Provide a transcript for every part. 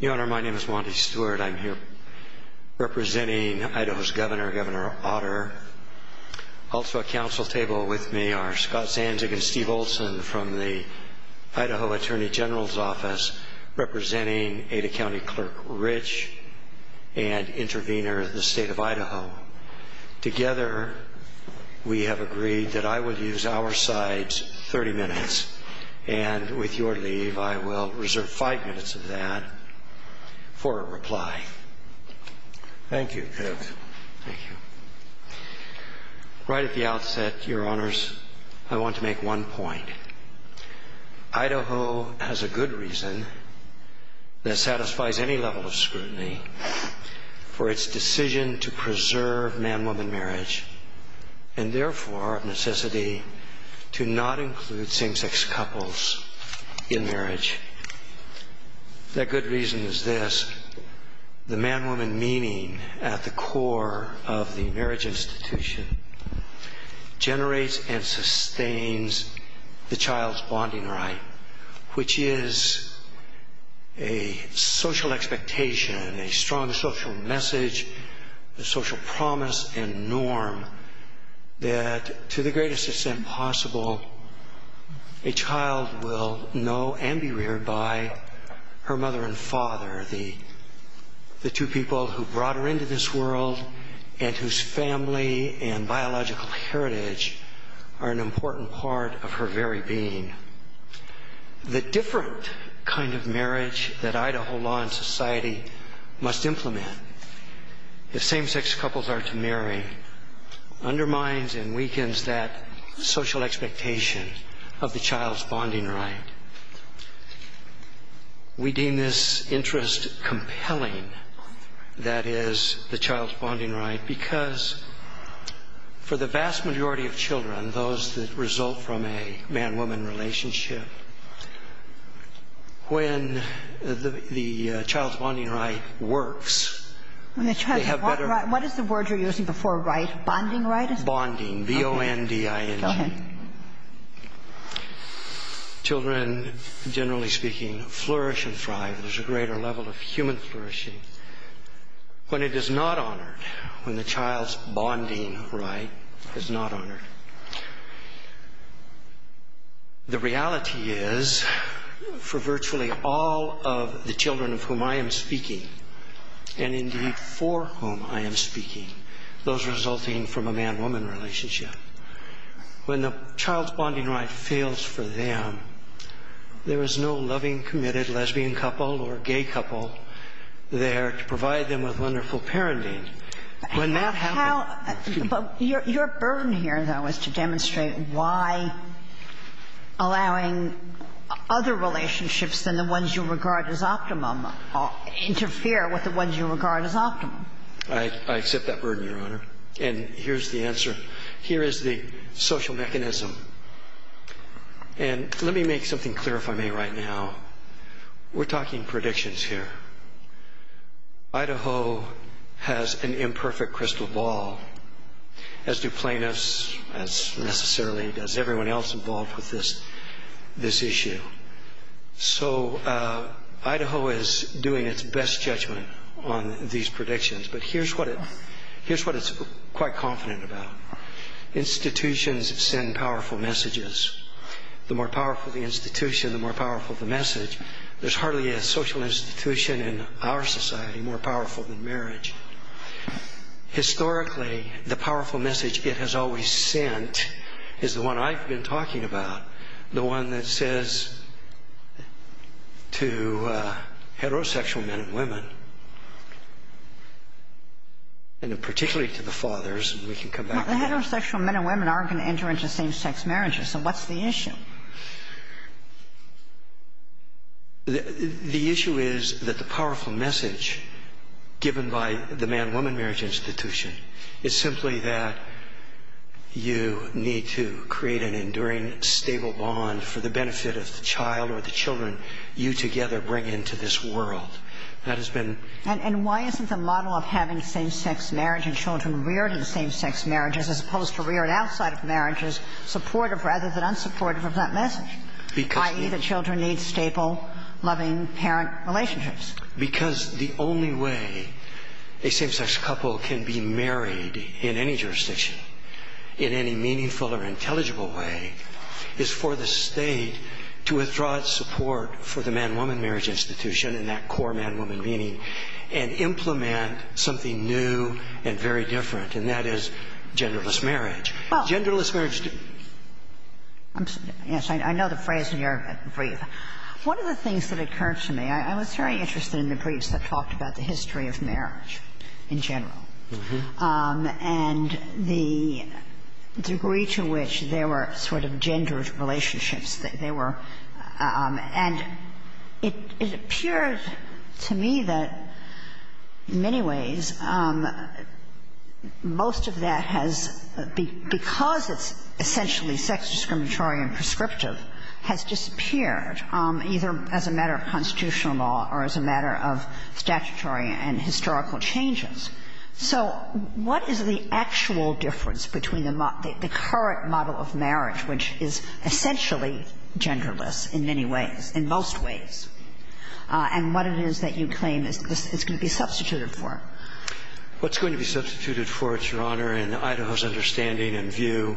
Your Honor, my name is Wanda Stewart. I'm here representing Idaho's Governor, Governor Otter. Also at council table with me are Scott Sanzig and Steve Olson from the Idaho Attorney General's Office representing Ada County Clerk Rich and intervener, the State of Idaho. Together, we have agreed that I will use our sides 30 minutes. And with your leave, I will reserve five minutes of that for a reply. Thank you. Right at the outset, Your Honors, I want to make one point. Idaho has a good reason that satisfies any level of scrutiny for its decision to preserve man-woman marriage and therefore necessity to not include same-sex couples in marriage. That good reason is this. The man-woman meaning at the core of the marriage institution generates and sustains the child's bonding right, which is a social expectation, a strong social message, a social promise and norm that to the greatest extent possible, a child will know and be reared by her mother and father, the two people who brought her into this world and whose family and biological heritage are an important part of her very being. The different kind of marriage that Idaho law and society must implement if same-sex couples are to marry undermines and weakens that social expectation of the child's bonding right. We deem this interest compelling, that is, the child's bonding right, because for the vast majority of children, those that result from a man-woman relationship, when the child's bonding right works, they have better... What is the word you're using before right? Bonding right? Bonding, B-O-N-D-I-N-G. Go ahead. Children, generally speaking, flourish and thrive. There's a greater level of human flourishing. When it is not honored, when the child's bonding right is not honored, the reality is, for virtually all of the children of whom I am speaking, and indeed for whom I am speaking, those resulting from a man-woman relationship, when the child's bonding right fails for them, there is no loving, committed lesbian couple or gay couple there to provide them with wonderful parenting. When that happens... Your burden here, though, is to demonstrate why allowing other relationships than the ones you regard as optimum interfere with the ones you regard as optimum. I accept that burden, Your Honor. And here's the answer. Here is the social mechanism. And let me make something clear, if I may, right now. We're talking predictions here. Idaho has an imperfect crystal ball, as do plaintiffs, as necessarily does everyone else involved with this issue. So Idaho is doing its best judgment on these predictions, but here's what it's quite confident about. Institutions send powerful messages. The more powerful the institution, the more powerful the message. There's hardly a social institution in our society more powerful than marriage. Historically, the powerful message it has always sent is the one I've been talking about, the one that says to heterosexual men and women, and particularly to the fathers, and we can come back to that. The heterosexual men and women aren't going to enter into same-sex marriages. So what's the issue? The issue is that the powerful message given by the man-woman marriage institution is simply that you need to create an enduring, stable bond for the benefit of the child or the children you together bring into this world. That has been the case. And why isn't the model of having same-sex marriage and children reared in same-sex marriages, as opposed to reared outside of marriages, supportive rather than unsupportive of that message, i.e., the children need stable, loving parent relationships? Because the only way a same-sex couple can be married in any jurisdiction, in any meaningful or intelligible way, is for the state to withdraw its support for the man-woman marriage institution and that core man-woman meaning and implement something new and very different, and that is genderless marriage. Well. Genderless marriage. Yes, I know the phrase in your brief. One of the things that occurred to me, I was very interested in the briefs that talked about the history of marriage in general and the degree to which there were sort of gendered relationships that there were. And it appeared to me that, in many ways, most of that has, because it's essentially sex-discriminatory and prescriptive, has disappeared either as a matter of constitutional law or as a matter of statutory and historical changes. So what is the actual difference between the current model of marriage, which is essentially genderless in many ways, in most ways, and what it is that you claim is going to be substituted for? What's going to be substituted for, Your Honor, in Idaho's understanding and view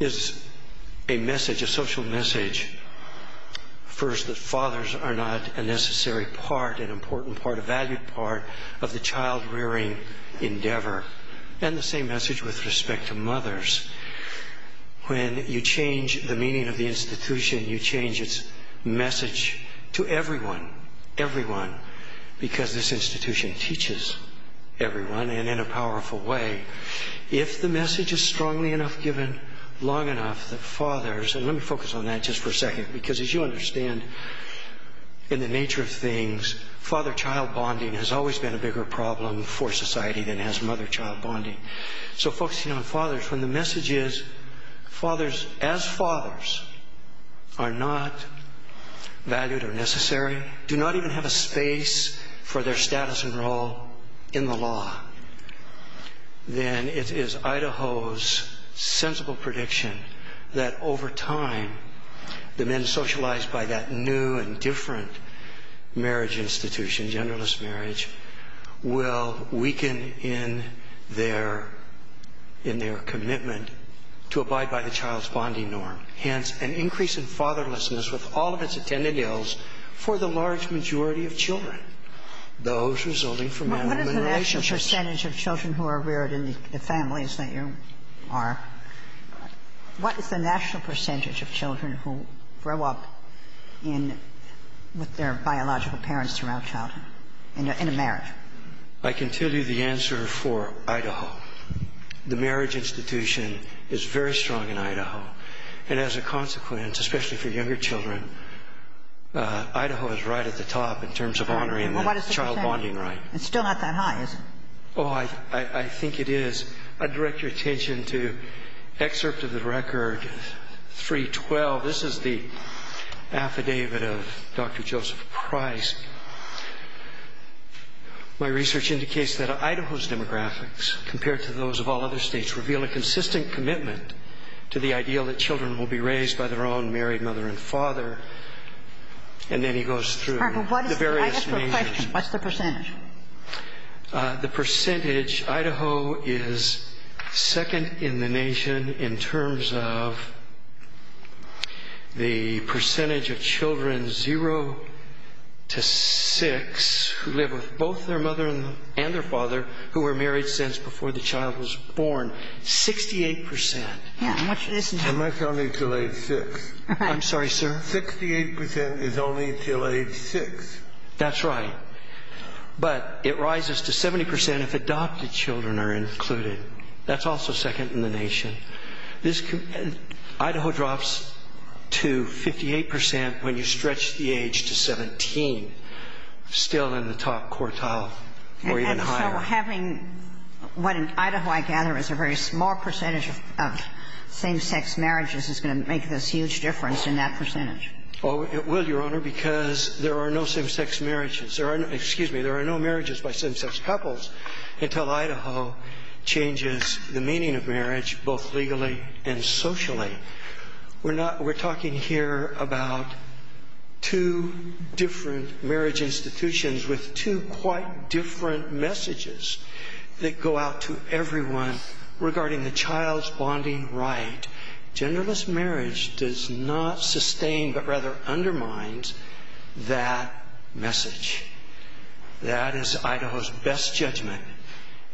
is a message, a social message. First, that fathers are not a necessary part, an important part, a valued part, of the child-rearing endeavor. And the same message with respect to mothers. When you change the meaning of the institution, you change its message to everyone, everyone, because this institution teaches everyone and in a powerful way. If the message is strongly enough given, long enough, that fathers, and let me focus on that just for a second, because as you understand, in the nature of things, father-child bonding has always been a bigger problem for society than has mother-child bonding. So focusing on fathers, when the message is, fathers as fathers are not valued or necessary, do not even have a space for their status and role in the law, then it is Idaho's sensible prediction that over time, the men socialized by that new and different marriage institution, genderless marriage, will weaken in their commitment to abide by the child's bonding norm. Hence, an increase in fatherlessness with all of its attended ills for the large majority of children, those resulting from man-woman relationships. What is the national percentage of children who are reared in the families that you are? What is the national percentage of children who grow up with their biological parents throughout childhood in a marriage? I can tell you the answer for Idaho. The marriage institution is very strong in Idaho. And as a consequence, especially for younger children, Idaho is right at the top in terms of honoring the child bonding right. It's still not that high, is it? Oh, I think it is. I'd direct your attention to excerpt of the record 312. This is the affidavit of Dr. Joseph Price. My research indicates that Idaho's demographics, compared to those of all other states, reveal a consistent commitment to the ideal that children will be raised by their own married mother and father. And then he goes through the various nations. I have a question. What's the percentage? The percentage, Idaho is second in the nation in terms of the percentage of children 0 to 6 who live with both their mother and their father who were married since before the child was born, 68%. Yeah, and what's this? And that's only until age 6. I'm sorry, sir? 68% is only until age 6. That's right. But it rises to 70% if adopted children are included. That's also second in the nation. Idaho drops to 58% when you stretch the age to 17, still in the top quartile or even higher. And so having what in Idaho I gather is a very small percentage of same-sex marriages is going to make this huge difference in that percentage. Well, it will, Your Honor, because there are no same-sex marriages. There are no marriages by same-sex couples until Idaho changes the meaning of marriage both legally and socially. We're talking here about two different marriage institutions with two quite different messages that go out to everyone regarding the child's bonding right. Genderless marriage does not sustain but rather undermines that message. That is Idaho's best judgment.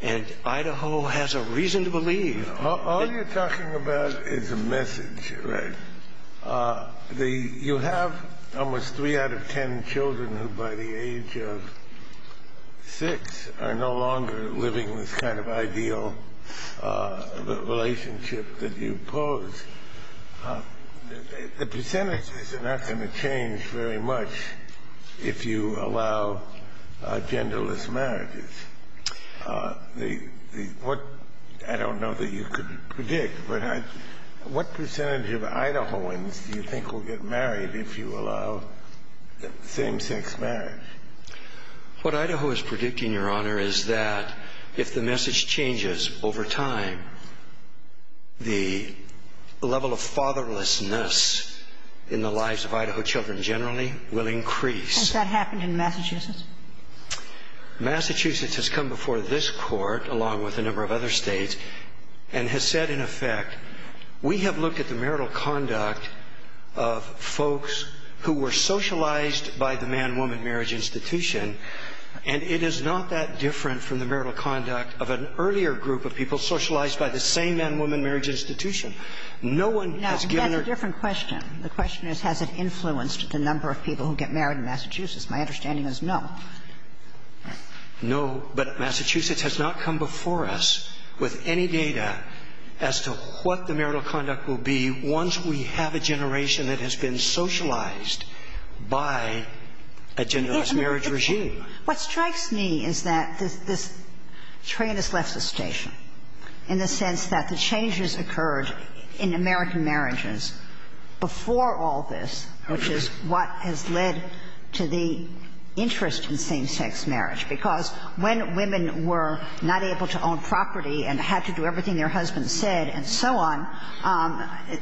And Idaho has a reason to believe. All you're talking about is a message, right? You have almost 3 out of 10 children who by the age of 6 are no longer living this kind of ideal relationship that you pose. The percentages are not going to change very much if you allow genderless marriages. I don't know that you could predict, but what percentage of Idahoans do you think will get married if you allow same-sex marriage? What Idaho is predicting, Your Honor, is that if the message changes over time, the level of fatherlessness in the lives of Idaho children generally will increase. Massachusetts has come before this Court, along with a number of other States, and has said, in effect, we have looked at the marital conduct of folks who were socialized by the man-woman marriage institution, and it is not that different from the marital conduct of an earlier group of people socialized by the same man-woman marriage institution. No one has given their ---- No. That's a different question. The question is, has it influenced the number of people who get married in Massachusetts? My understanding is no. No, but Massachusetts has not come before us with any data as to what the marital conduct will be once we have a generation that has been socialized by a genderless marriage regime. What strikes me is that this train has left the station in the sense that the changes occurred in American marriages before all this, which is what has led to the interest in same-sex marriage, because when women were not able to own property and had to do everything their husbands said and so on,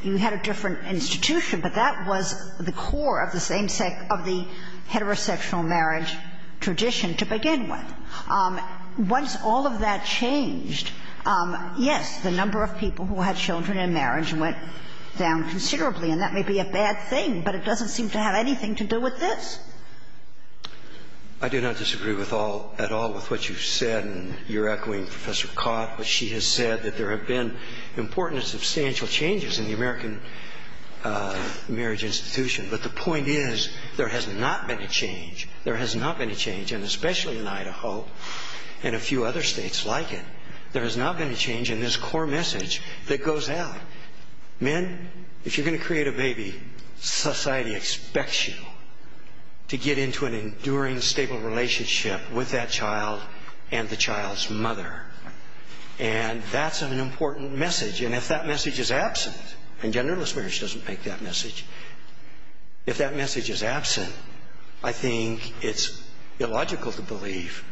you had a different institution, but that was the core of the same-sex ---- of the heterosexual marriage tradition to begin with. Once all of that changed, yes, the number of people who had children in marriage went down considerably, and that may be a bad thing, but it doesn't seem to have anything to do with this. I do not disagree with all ---- at all with what you've said, and you're echoing Professor Cott, but she has said that there have been important and substantial changes in the American marriage institution. But the point is there has not been a change. There has not been a change, and especially in Idaho and a few other states like it, there has not been a change in this core message that goes out. Men, if you're going to create a baby, society expects you to get into an enduring, stable relationship with that child and the child's mother. And that's an important message, and if that message is absent, and genderless marriage doesn't make that message, if that message is absent, I think it's illogical to believe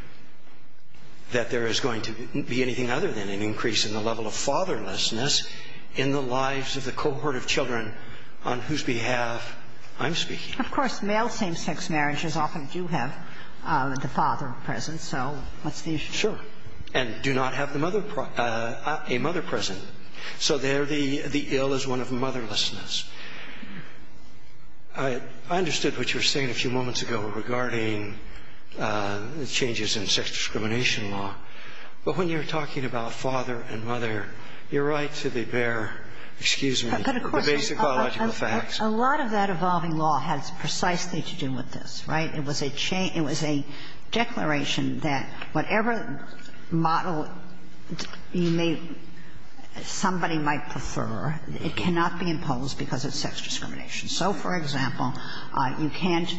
that there is going to be anything other than an increase in the level of fatherlessness in the lives of the cohort of children on whose behalf I'm speaking. Of course, male same-sex marriages often do have the father present, so what's the issue? Sure. And do not have the mother ---- a mother present. So there the ill is one of motherlessness. I understood what you were saying a few moments ago regarding the changes in sex discrimination law, but when you're talking about father and mother, you're right to bear, excuse me, the basic biological facts. But of course, a lot of that evolving law has precisely to do with this, right? It was a change ---- it was a declaration that whatever model you may ---- somebody might prefer, it cannot be imposed because of sex discrimination. So, for example, you can't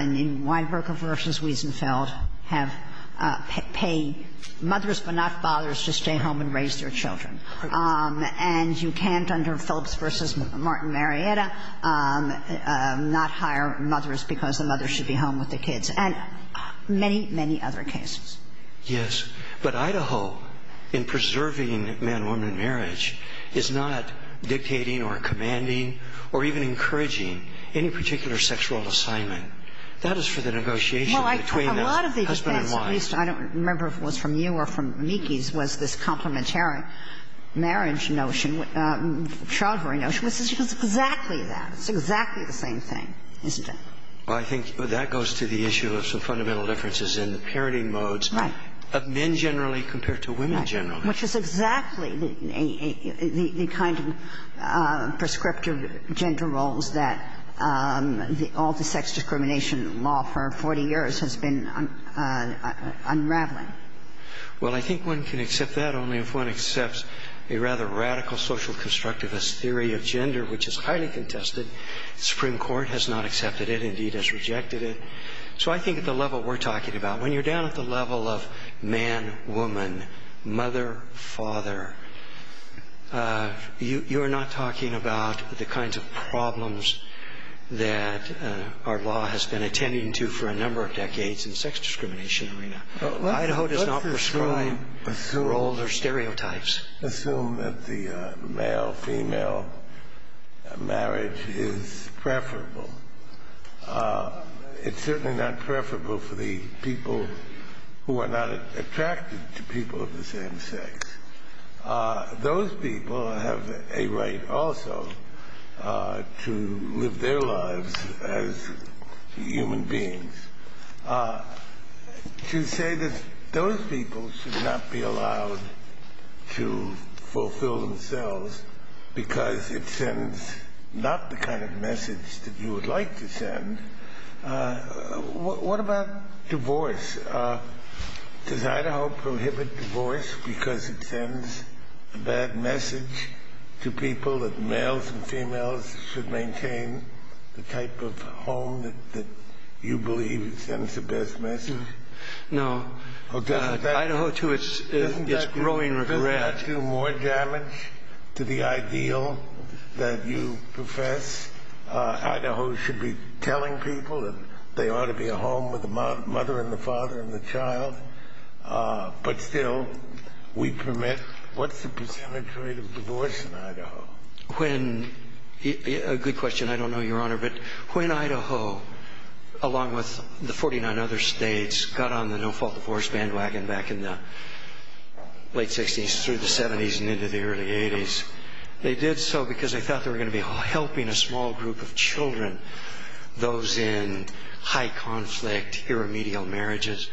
in Weinberger v. Wiesenfeld have ---- pay mothers but not fathers to stay home and raise their children. And you can't under Phillips v. Martin Marietta not hire mothers because the mother should be home with the kids and many, many other cases. Yes. But Idaho, in preserving man-woman marriage, is not dictating or commanding or even encouraging any particular sexual assignment. That is for the negotiation between the husband and wife. Well, a lot of these things, at least I don't remember if it was from you or from Meekes, was this complementary marriage notion, child rearing notion, which is exactly It's exactly the same thing, isn't it? Well, I think that goes to the issue of some fundamental differences in the parenting modes of men generally compared to women generally. Which is exactly the kind of prescriptive gender roles that all the sex discrimination law for 40 years has been unraveling. Well, I think one can accept that only if one accepts a rather radical social constructivist theory of gender, which is highly contested. The Supreme Court has not accepted it, indeed has rejected it. So I think at the level we're talking about, when you're down at the level of man-woman, mother-father, you're not talking about the kinds of problems that our law has been attending to for a number of decades in the sex discrimination arena. Idaho does not prescribe roles or stereotypes. Assume that the male-female marriage is preferable. It's certainly not preferable for the people who are not attracted to people of the same sex. Those people have a right also to live their lives as human beings. To say that those people should not be allowed to fulfill themselves because it sends not the kind of message that you would like to send. What about divorce? Does Idaho prohibit divorce because it sends a bad message to people that males and females should maintain the type of home that you believe sends the best message? No. Idaho to its growing regret. Doesn't that do more damage to the ideal that you profess? Idaho should be telling people that they ought to be a home with the mother and the father and the child. But still, we permit. What's the percentage rate of divorce in Idaho? A good question. I don't know, Your Honor. But when Idaho, along with the 49 other states, got on the no-fault divorce bandwagon back in the late 60s through the 70s and into the early 80s, they did so because they thought they were going to be helping a small group of children, those in high-conflict, irremedial marriages.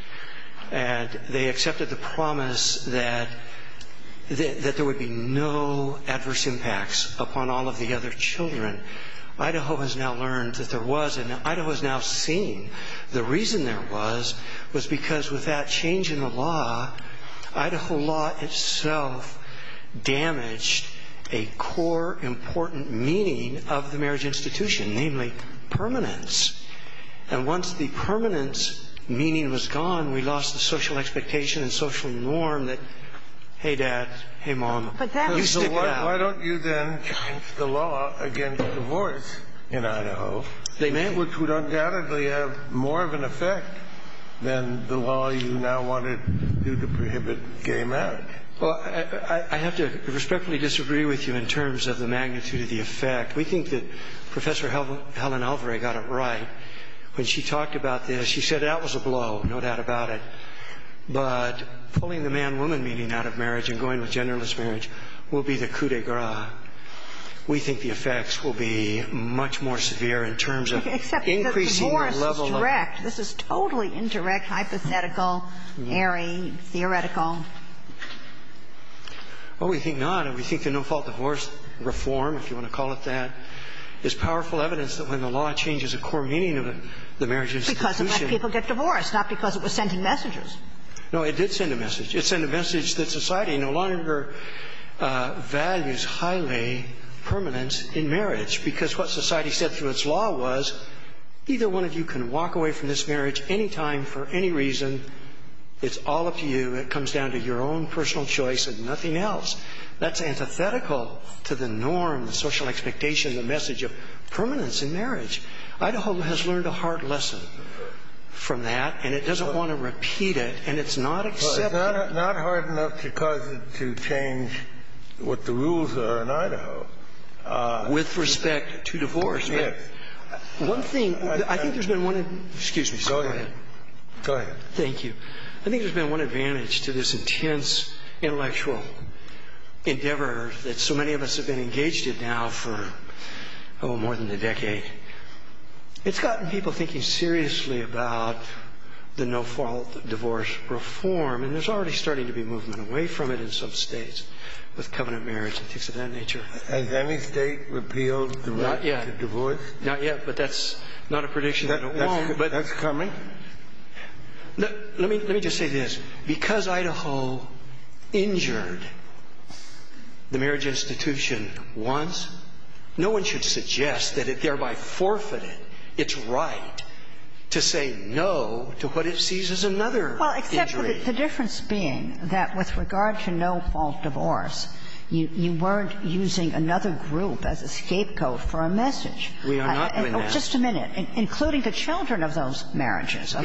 And they accepted the promise that there would be no adverse impacts upon all of the other children. Idaho has now learned that there was. And Idaho has now seen. The reason there was was because with that change in the law, Idaho law itself damaged a core important meaning of the marriage institution, namely permanence. And once the permanence meaning was gone, we lost the social expectation and social norm that, hey, dad, hey, mom, you stick around. Why don't you then change the law against divorce in Idaho? They may. Which would undoubtedly have more of an effect than the law you now want to do to prohibit gay marriage. Well, I have to respectfully disagree with you in terms of the magnitude of the effect. We think that Professor Helen Alvare got it right. When she talked about this, she said that was a blow, no doubt about it. But pulling the man-woman meaning out of marriage and going with genderless marriage will be the coup de grace. We think the effects will be much more severe in terms of increasing the level of Except the divorce is direct. This is totally indirect, hypothetical, airy, theoretical. Well, we think not. We think the no-fault divorce reform, if you want to call it that, is powerful evidence that when the law changes the core meaning of the marriage institution Because it let people get divorced, not because it was sending messages. No, it did send a message. It sent a message that society no longer values highly permanence in marriage because what society said through its law was either one of you can walk away from this marriage any time for any reason. It's all up to you. It comes down to your own personal choice and nothing else. That's antithetical to the norm, the social expectation, the message of permanence in marriage. Idaho has learned a hard lesson from that, and it doesn't want to repeat it, and it's not accepting it. It's not hard enough to cause it to change what the rules are in Idaho. With respect to divorce. With respect. One thing. I think there's been one. Excuse me, sir. Go ahead. Go ahead. Thank you. I think there's been one advantage to this intense intellectual endeavor that so many of us have been engaged in now for more than a decade. It's gotten people thinking seriously about the no-fault divorce reform, and there's already starting to be movement away from it in some states with covenant marriage and things of that nature. Has any state repealed the right to divorce? Not yet, but that's not a prediction. That's coming. Let me just say this. Because Idaho injured the marriage institution once, no one should suggest that it thereby forfeited its right to say no to what it sees as another injury. Well, except for the difference being that with regard to no-fault divorce, you weren't using another group as a scapegoat for a message. We are not doing that. Well, just a minute. Including the children of those marriages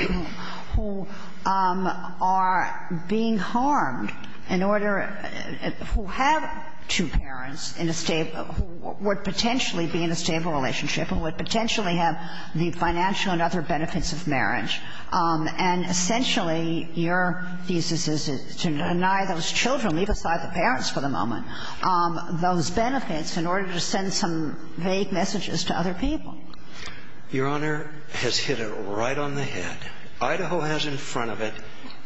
who are being harmed in order to have two parents in a stable – who would potentially be in a stable relationship and would potentially have the financial and other benefits of marriage. And essentially your thesis is to deny those children – leave aside the parents for the moment – those benefits in order to send some vague messages to other people. Your Honor has hit it right on the head. Idaho has in front of it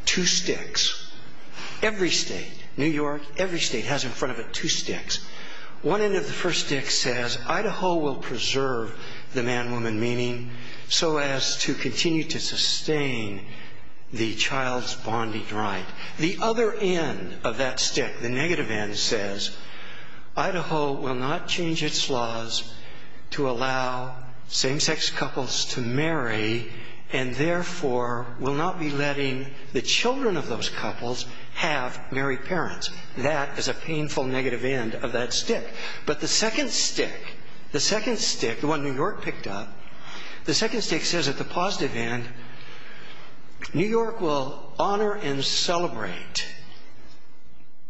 two sticks. Every state, New York, every state has in front of it two sticks. One end of the first stick says Idaho will preserve the man-woman meaning so as to continue to sustain the child's bonding right. The other end of that stick, the negative end, says Idaho will not change its laws to allow same-sex couples to marry and therefore will not be letting the children of those couples have married parents. That is a painful negative end of that stick. But the second stick, the second stick, the one New York picked up, the second stick says at the positive end New York will honor and celebrate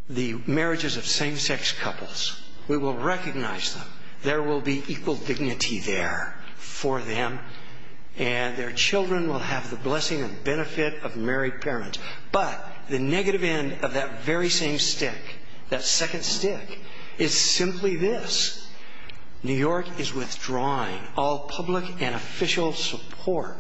the marriages of same-sex couples. We will recognize them. There will be equal dignity there for them and their children will have the blessing and benefit of married parents. But the negative end of that very same stick, that second stick, is simply this. New York is withdrawing all public and official support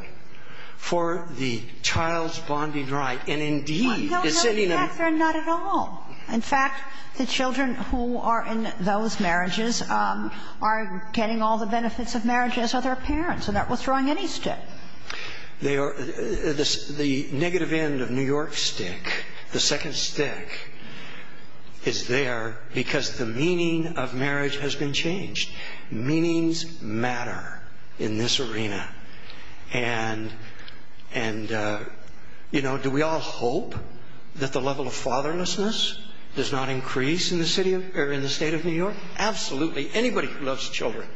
for the child's bonding right and, indeed, it's sitting there. No, no, not at all. In fact, the children who are in those marriages are getting all the benefits of marriage as are their parents. They're not withdrawing any stick. They are the negative end of New York's stick. The second stick is there because the meaning of marriage has been changed. Meanings matter in this arena. And, you know, do we all hope that the level of fatherlessness does not increase in the state of New York? Absolutely. Anybody who loves children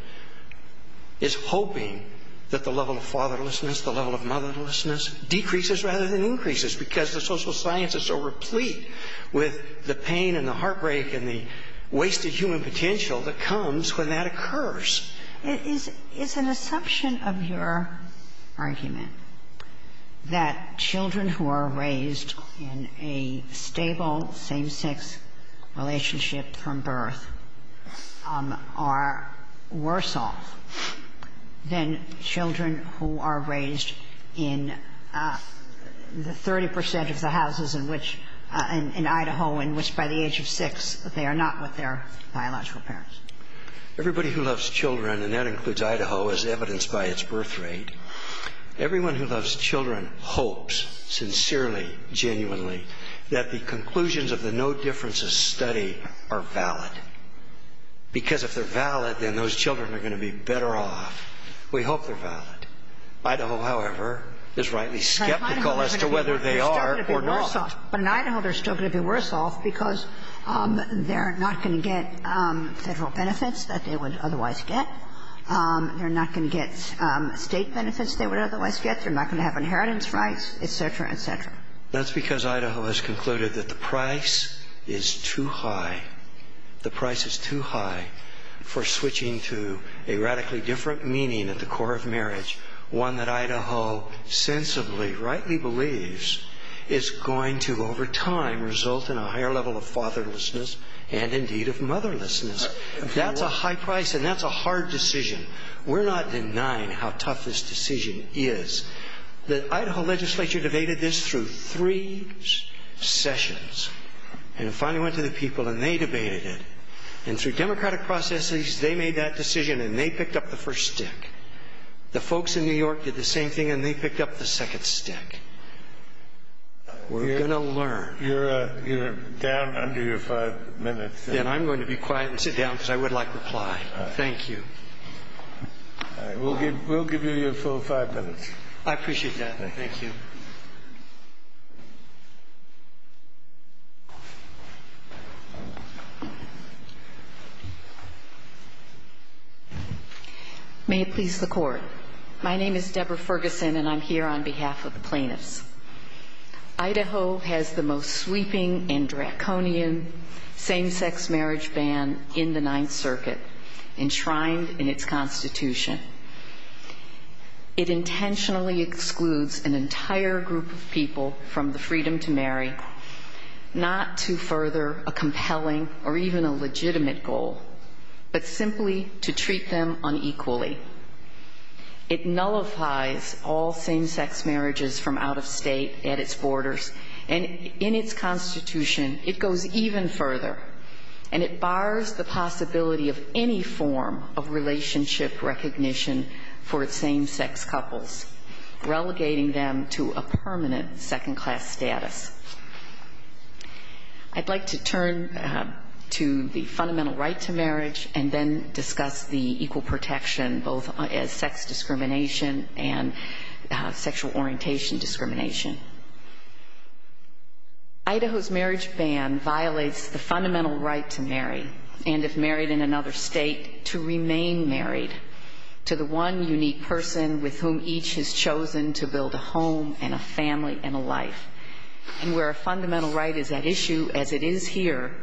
is hoping that the level of fatherlessness, the level of motherlessness, decreases rather than increases because the social sciences are replete with the pain and the heartbreak and the wasted human potential that comes when that occurs. It's an assumption of your argument that children who are raised in a stable same-sex relationship from birth are worse off than children who are raised in the 30% of the houses in Idaho in which by the age of six they are not with their biological parents. Everybody who loves children, and that includes Idaho, is evidenced by its birth rate. It's an assumption of your argument that the level of fatherlessness, are replete with the pain and the heartbreak and the wasted human potential that comes when that occurs. It's an assumption of your argument that the level of fatherlessness, they're not going to have inheritance rights, et cetera, et cetera. That's because Idaho has concluded that the price is too high. The price is too high for switching to a radically different meaning at the core of marriage, one that Idaho sensibly, rightly believes is going to over time result in a higher level of fatherlessness and indeed of motherlessness. That's a high price and that's a hard decision. We're not denying how tough this decision is. The Idaho legislature debated this through three sessions and it finally went to the people and they debated it and through democratic processes they made that decision and they picked up the first stick. The folks in New York did the same thing and they picked up the second stick. We're going to learn. You're down under your five minutes. Then I'm going to be quiet and sit down because I would like reply. Thank you. We'll give you your full five minutes. I appreciate that. Thank you. May it please the Court. My name is Deborah Ferguson and I'm here on behalf of the plaintiffs. Idaho has the most sweeping and draconian same-sex marriage ban in the Ninth Circuit enshrined in its constitution. It intentionally excludes an entire group of people from the freedom to marry, not to further a compelling or even a legitimate goal, but simply to treat them unequally. It nullifies all same-sex marriages from out of state at its borders and in its constitution it goes even further and it bars the possibility of any form of relationship recognition for same-sex couples, relegating them to a permanent second-class status. I'd like to turn to the fundamental right to marriage and then discuss the equal protection both as sex discrimination and sexual orientation discrimination. Idaho's marriage ban violates the fundamental right to marry and, if married in another state, to remain married to the one unique person with whom each has chosen to build a home and a family and a life. And where a fundamental right is at issue, as it is here,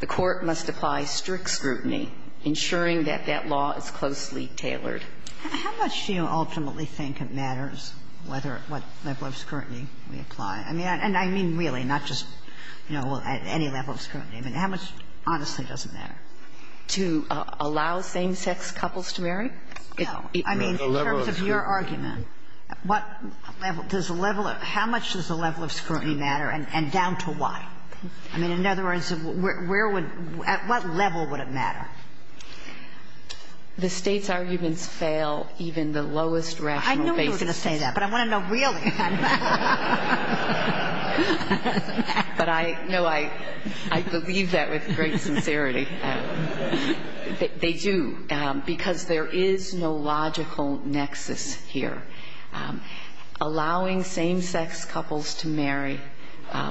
the Court must apply strict scrutiny, ensuring that that law is closely tailored. How much do you ultimately think it matters, what level of scrutiny? And I mean really, not just, you know, at any level of scrutiny. I mean, how much honestly doesn't matter? To allow same-sex couples to marry? No. I mean, in terms of your argument, what level does the level of – how much does the level of scrutiny matter and down to why? I mean, in other words, where would – at what level would it matter? The State's arguments fail even the lowest rational basis. I knew you were going to say that, but I want to know really. But I know I believe that with great sincerity. They do, because there is no logical nexus here. Allowing same-sex couples to marry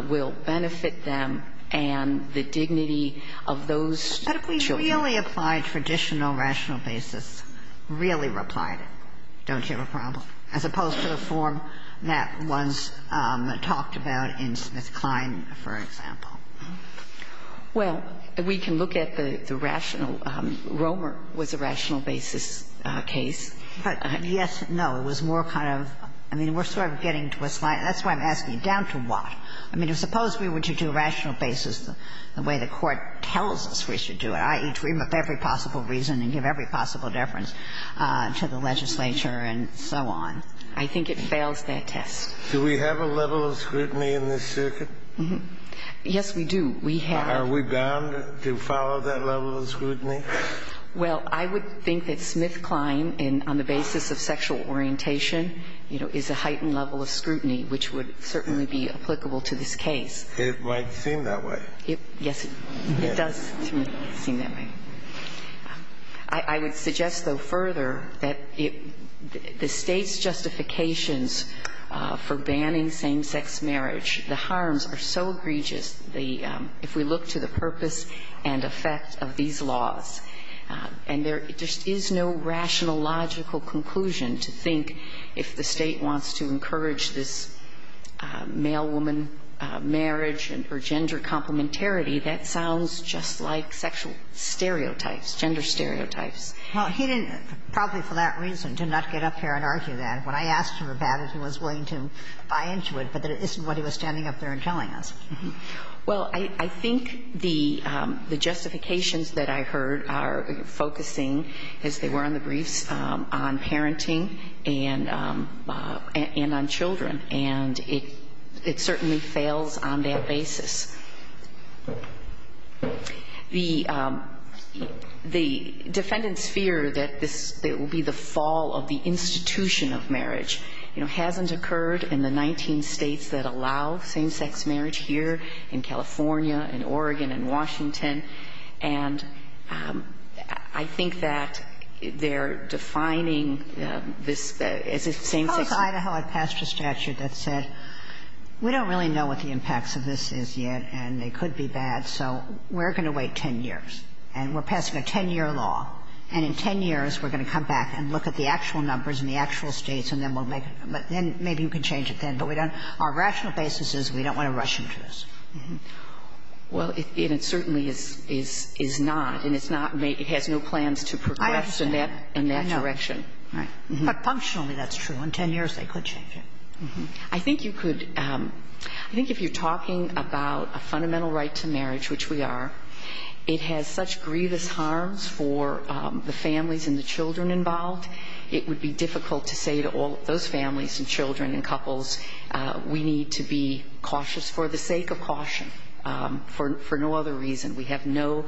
will benefit them and the dignity of those children. But if we really applied traditional rational basis, really replied, don't you have a problem, as opposed to the form that was talked about in SmithKline, for example? Well, we can look at the rational – Romer was a rational basis case. Yes. No. It was more kind of – I mean, we're sort of getting to a slight – that's why I'm asking, down to what? I mean, suppose we were to do rational basis the way the Court tells us we should do it, i.e., to remove every possible reason and give every possible deference to the legislature and so on. I think it fails that test. Do we have a level of scrutiny in this circuit? Yes, we do. We have. Are we bound to follow that level of scrutiny? Well, I would think that SmithKline, on the basis of sexual orientation, you know, is a heightened level of scrutiny, which would certainly be applicable to this case. It might seem that way. Yes, it does seem that way. I would suggest, though, further that the State's justifications for banning same-sex marriage, the harms are so egregious if we look to the purpose and effect of these laws. And there just is no rational, logical conclusion to think if the State wants to encourage this male-woman marriage or gender complementarity, that sounds just like sexual stereotypes, gender stereotypes. Well, he didn't, probably for that reason, did not get up here and argue that. What I asked him about it, he was willing to buy into it, but it isn't what he was standing up there and telling us. Well, I think the justifications that I heard are focusing, as they were on the briefs, on parenting and on children. And it certainly fails on that basis. The defendants fear that this will be the fall of the institution of marriage. You know, it hasn't occurred in the 19 states that allow same-sex marriage here, in California, in Oregon, in Washington. And I think that they're defining this as a same-sex marriage. How does Idaho pass a statute that said, we don't really know what the impacts of this is yet, and they could be bad, so we're going to wait 10 years, and we're passing a 10-year law. And in 10 years, we're going to come back and look at the actual numbers in the actual States, and then we'll make it. But then maybe you can change it then. But we don't – our rational basis is we don't want to rush into this. Well, it certainly is not. And it's not – it has no plans to progress in that direction. I understand. I know. But functionally, that's true. In 10 years, they could change it. I think you could – I think if you're talking about a fundamental right to marriage, which we are, it has such grievous harms for the families and the children involved, it would be difficult to say to all of those families and children and couples, we need to be cautious for the sake of caution, for no other reason. We have no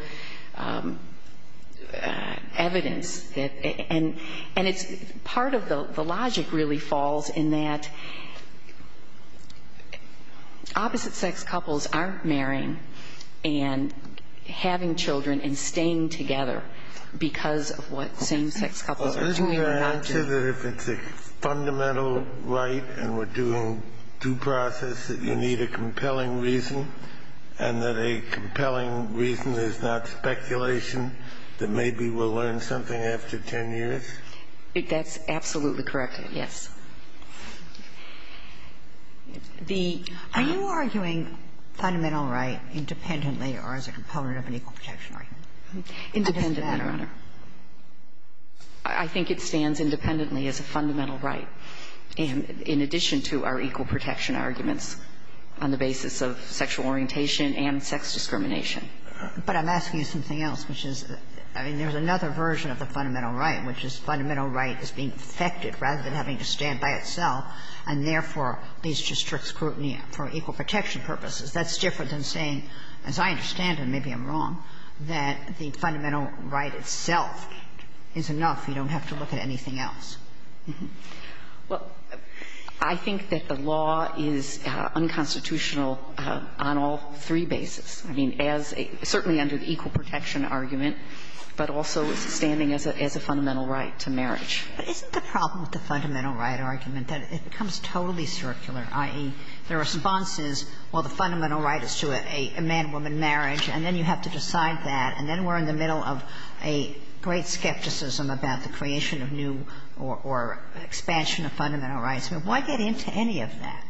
evidence that – and it's – part of the logic really falls in that opposite-sex couples aren't marrying and having children and staying together because of what same-sex couples are doing or not doing. Are you saying that if it's a fundamental right and we're doing due process, that you need a compelling reason and that a compelling reason is not speculation that maybe we'll learn something after 10 years? That's absolutely correct, yes. The – Are you arguing fundamental right independently or as a component of an equal protection right? Independent, Your Honor. I think it stands independently as a fundamental right, in addition to our equal protection arguments on the basis of sexual orientation and sex discrimination. But I'm asking you something else, which is – I mean, there's another version of the fundamental right, which is fundamental right is being effected rather than having to stand by itself, and therefore, leads to strict scrutiny for equal protection purposes. That's different than saying, as I understand it, maybe I'm wrong, that the fundamental right itself is enough, you don't have to look at anything else. Well, I think that the law is unconstitutional on all three bases. I mean, as a – certainly under the equal protection argument, but also standing as a fundamental right to marriage. But isn't the problem with the fundamental right argument that it becomes totally circular, i.e., the response is, well, the fundamental right is to a man-woman marriage, and then you have to decide that, and then we're in the middle of a great skepticism about the creation of new or expansion of fundamental rights. Why get into any of that?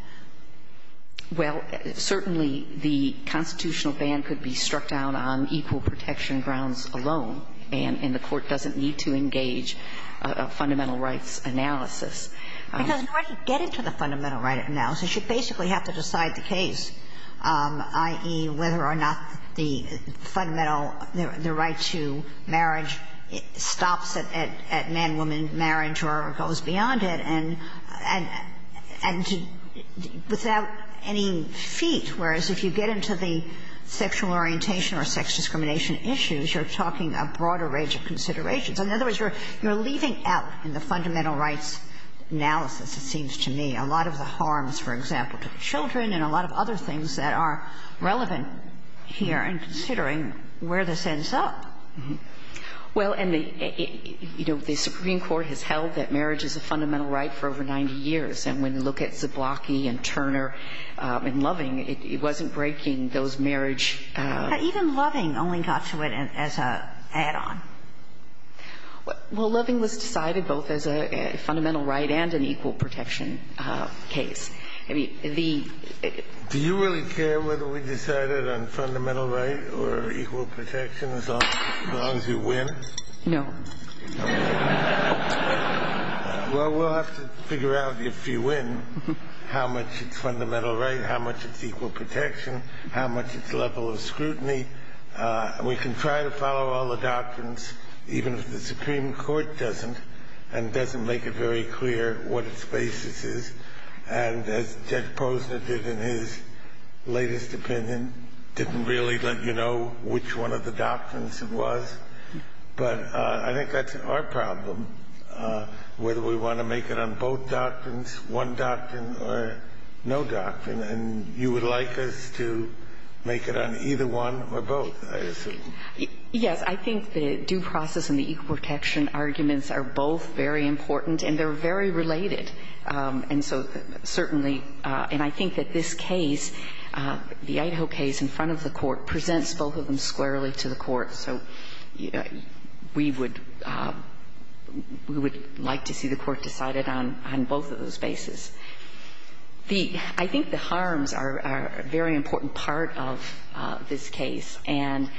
Well, certainly, the constitutional ban could be struck down on equal protection grounds alone, and the Court doesn't need to engage a fundamental rights analysis. Because in order to get into the fundamental right analysis, you basically have to decide the case, i.e., whether or not the fundamental – the right to marriage stops at man-woman marriage or goes beyond it and – and without any feat, whereas if you get into the sexual orientation or sex discrimination issues, you're talking a broader range of considerations. In other words, you're leaving out in the fundamental rights analysis, it seems to me, a lot of the harms, for example, to the children and a lot of other things that are relevant here in considering where this ends up. Well, and the – you know, the Supreme Court has held that marriage is a fundamental right for over 90 years, and when you look at Zablocki and Turner and Loving, it wasn't breaking those marriage – Even Loving only got to it as a add-on. Well, Loving was decided both as a fundamental right and an equal protection case. I mean, the – Do you really care whether we decide it on fundamental right or equal protection as long as you win? No. Well, we'll have to figure out if you win how much it's fundamental right, how much it's equal protection, how much it's level of scrutiny. And we can try to follow all the doctrines, even if the Supreme Court doesn't and doesn't make it very clear what its basis is. And as Judge Posner did in his latest opinion, didn't really let you know which one of the doctrines it was. But I think that's our problem, whether we want to make it on both doctrines, one doctrine or no doctrine. And you would like us to make it on either one or both, I assume. Yes. I think the due process and the equal protection arguments are both very important and they're very related. And so certainly – and I think that this case, the Idaho case in front of the court, presents both of them squarely to the court. So we would – we would like to see the court decided on both of those bases. The – I think the harms are a very important part of this case. And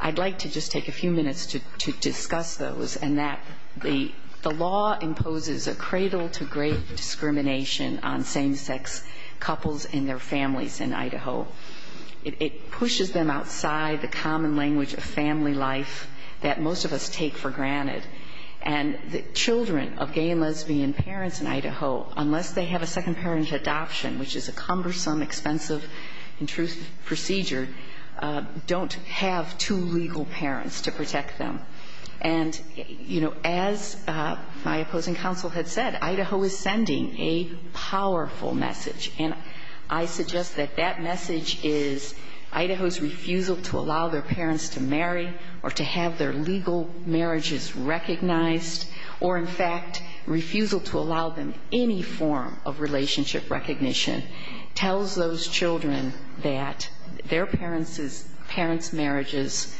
I'd like to just take a few minutes to discuss those and that the law imposes a cradle to grave discrimination on same-sex couples and their families in Idaho. It pushes them outside the common language of family life that most of us take for granted. And the children of gay and lesbian parents in Idaho, unless they have a second-parent adoption, which is a cumbersome, expensive, intrusive procedure, don't have two legal parents to protect them. And, you know, as my opposing counsel had said, Idaho is sending a powerful message. And I suggest that that message is Idaho's refusal to allow their parents to marry or to have their legal marriages recognized or, in fact, refusal to allow them any form of relationship recognition tells those children that their parents' marriages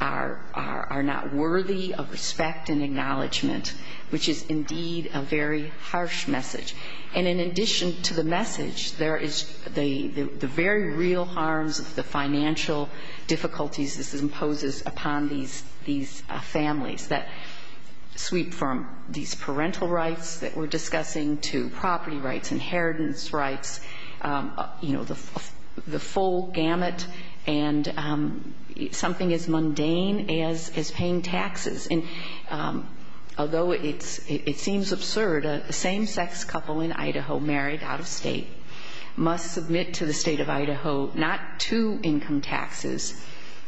are not worthy of respect and acknowledgment, which is indeed a very harsh message. And in addition to the message, there is the very real harms of the financial difficulties this imposes upon these families that sweep from these parental rights that we're discussing to property rights, inheritance rights, you know, the full gamut and something as mundane as paying taxes. And although it seems absurd, a same-sex couple in Idaho married out of state must submit to the state of Idaho not two income taxes,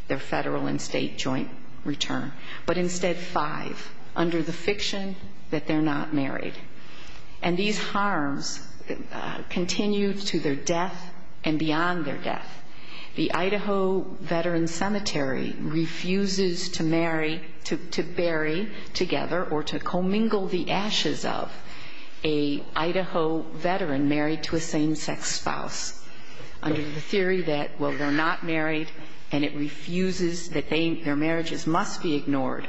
their federal and state joint return, but instead five under the fiction that they're not married. And these harms continue to their death and beyond their death. The Idaho Veterans Cemetery refuses to marry, to bury together or to commingle the ashes of a Idaho veteran married to a same-sex spouse under the theory that, well, they're not married and it refuses that their marriages must be ignored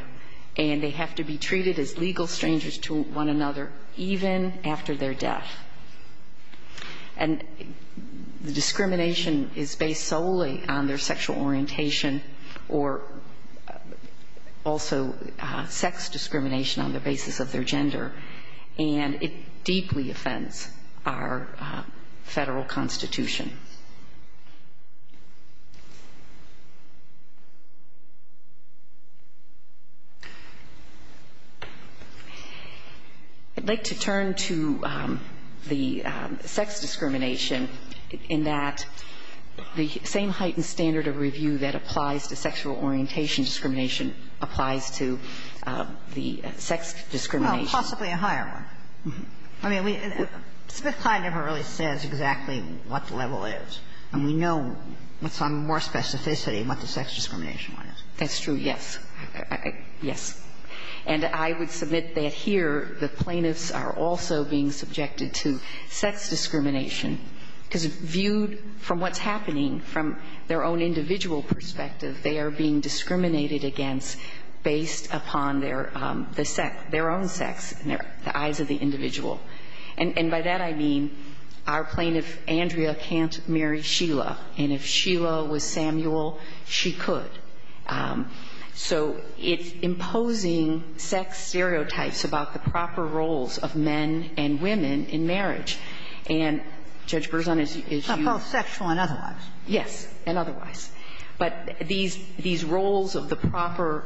and they have to be treated as legal strangers to one another, even after their death. And the discrimination is based solely on their sexual orientation or also sex discrimination on the basis of their sexual orientation, and it deeply offends our federal constitution. I'd like to turn to the sex discrimination in that the same heightened standard of review that applies to sexual orientation and discrimination applies to the sex discrimination. Well, possibly a higher one. I mean, Smith-Kline never really says exactly what the level is, and we know with some more specificity what the sex discrimination one is. That's true, yes. Yes. And I would submit that here the plaintiffs are also being subjected to sex discrimination because viewed from what's happening from their own individual perspective, they are being discriminated against based upon their own sex in the eyes of the individual. And by that I mean our plaintiff, Andrea, can't marry Sheila, and if Sheila was Samuel, she could. So it's imposing sex stereotypes about the proper roles of men and women in marriage. And, Judge Berzon, as you ---- Both sexual and otherwise. Yes, and otherwise. But these roles of the proper,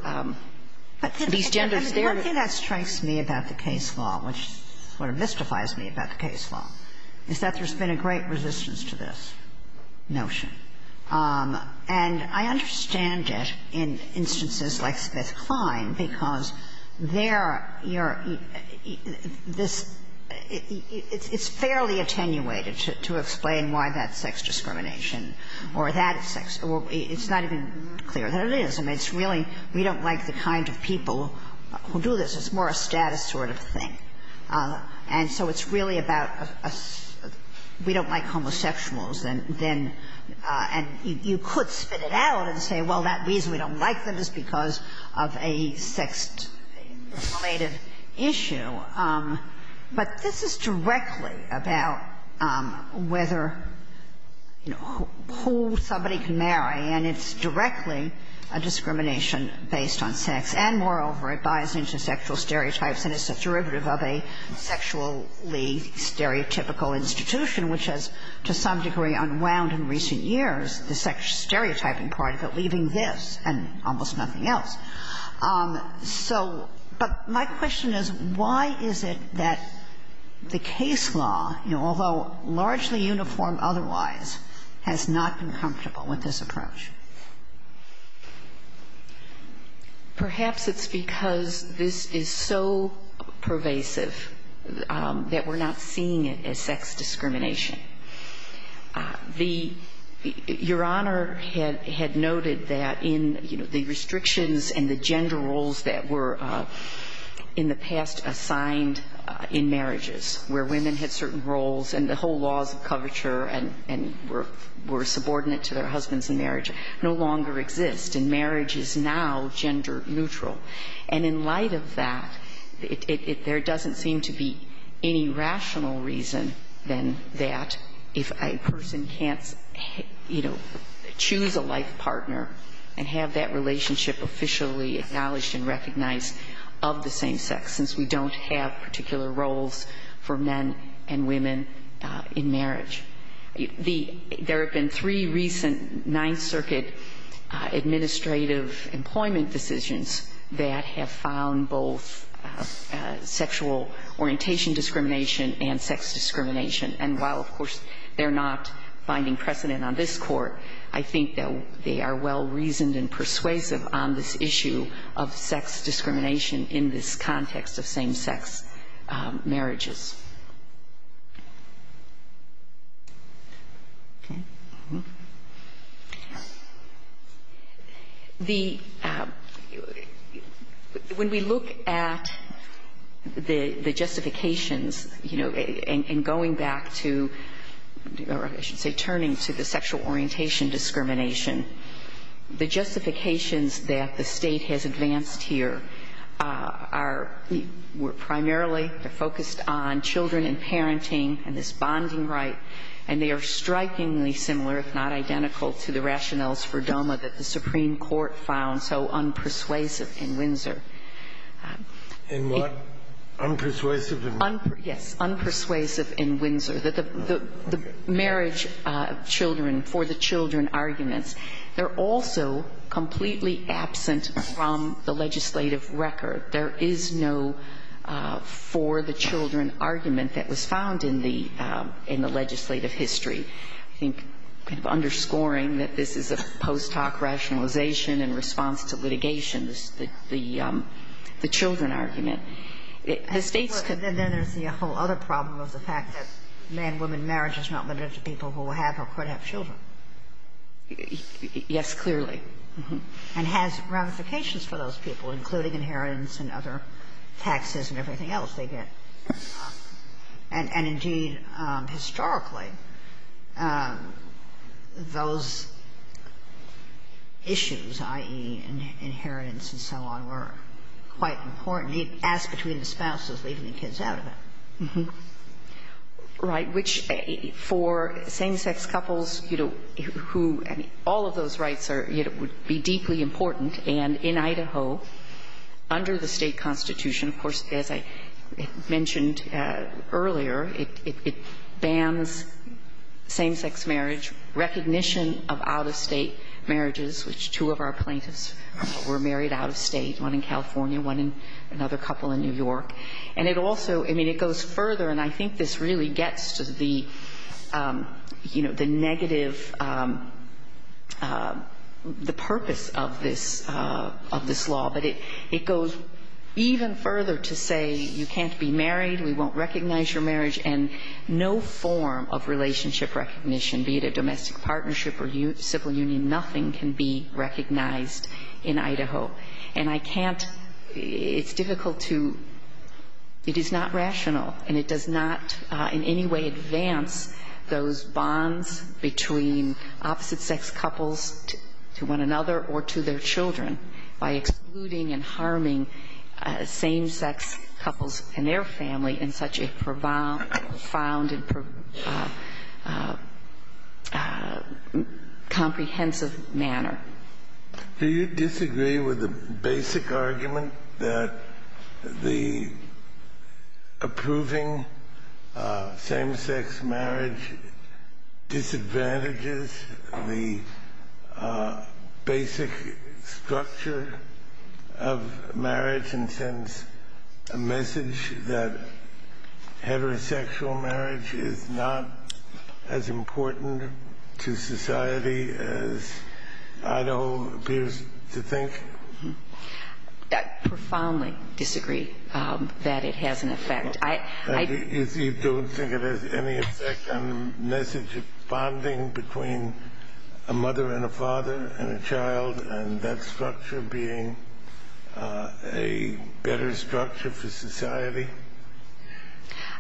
these genders there ---- But the thing that strikes me about the case law, which sort of mystifies me about the case law, is that there's been a great resistance to this notion. And I understand it in instances like Smith-Kline because there you're ---- this ---- it's fairly attenuated to explain why that's sex discrimination or that it's sex. It's not even clear that it is. I mean, it's really we don't like the kind of people who do this. It's more a status sort of thing. And so it's really about we don't like homosexuals. And then you could spit it out and say, well, that reason we don't like them is because of a sex-related issue. But this is directly about whether, you know, who somebody can marry. And it's directly a discrimination based on sex. And, moreover, it buys into sexual stereotypes and is a derivative of a sexually stereotypical institution, which has to some degree unwound in recent years, the sex stereotyping part of it, leaving this and almost nothing else. So but my question is, why is it that the case law, you know, although largely uniform otherwise, has not been comfortable with this approach? Perhaps it's because this is so pervasive that we're not seeing it as sex discrimination. Your Honor had noted that in, you know, the restrictions and the gender roles that were in the past assigned in marriages where women had certain roles and the whole laws of coverture and were subordinate to their husbands in marriage no longer exist, and marriage is now gender neutral. And in light of that, there doesn't seem to be any rational reason than that for that if a person can't, you know, choose a life partner and have that relationship officially acknowledged and recognized of the same sex, since we don't have particular roles for men and women in marriage. There have been three recent Ninth Circuit administrative employment decisions that have found both sexual orientation discrimination and sex discrimination. And while, of course, they're not finding precedent on this Court, I think that they are well-reasoned and persuasive on this issue of sex discrimination in this context of same-sex marriages. Okay. The – when we look at the justifications, you know, in going back to – or I should say turning to the sexual orientation discrimination, the justifications that the State has advanced here are – were primarily focused on children and children. And the Supreme Court found that the marriage of children for the children arguments, they're also completely absent from the legislative record. There is no for the children argument that was found in the – in the legislative underscoring that this is a post-hoc rationalization in response to litigation, the children argument. The State's – But then there's the whole other problem of the fact that man-woman marriage is not limited to people who have or could have children. Yes, clearly. And has ramifications for those people, including inheritance and other taxes and everything else they get. And indeed, historically, those issues, i.e., inheritance and so on, were quite important. The ask between the spouses, leaving the kids out of it. Right. Which for same-sex couples, you know, who – I mean, all of those rights are – would be deeply important. And in Idaho, under the state constitution, of course, as I mentioned earlier, it bans same-sex marriage, recognition of out-of-state marriages, which two of our plaintiffs were married out-of-state, one in California, one in – another couple in New York. And it also – I mean, it goes further, and I think this really gets to the, you know, the purpose of this law. But it goes even further to say you can't be married, we won't recognize your marriage, and no form of relationship recognition, be it a domestic partnership or civil union, nothing can be recognized in Idaho. And I can't – it's difficult to – it is not rational, and it does not in any way advance those bonds between opposite-sex couples to one another or to their children by excluding and harming same-sex couples and their family in such a profound and comprehensive manner. Do you disagree with the basic argument that the approving same-sex marriage disadvantages the basic structure of marriage and sends a message that heterosexual marriage is not as important to society as Idaho appears to think? I profoundly disagree that it has an effect. You don't think it has any effect on the message of bonding between a mother and a father and a child, and that structure being a better structure for society?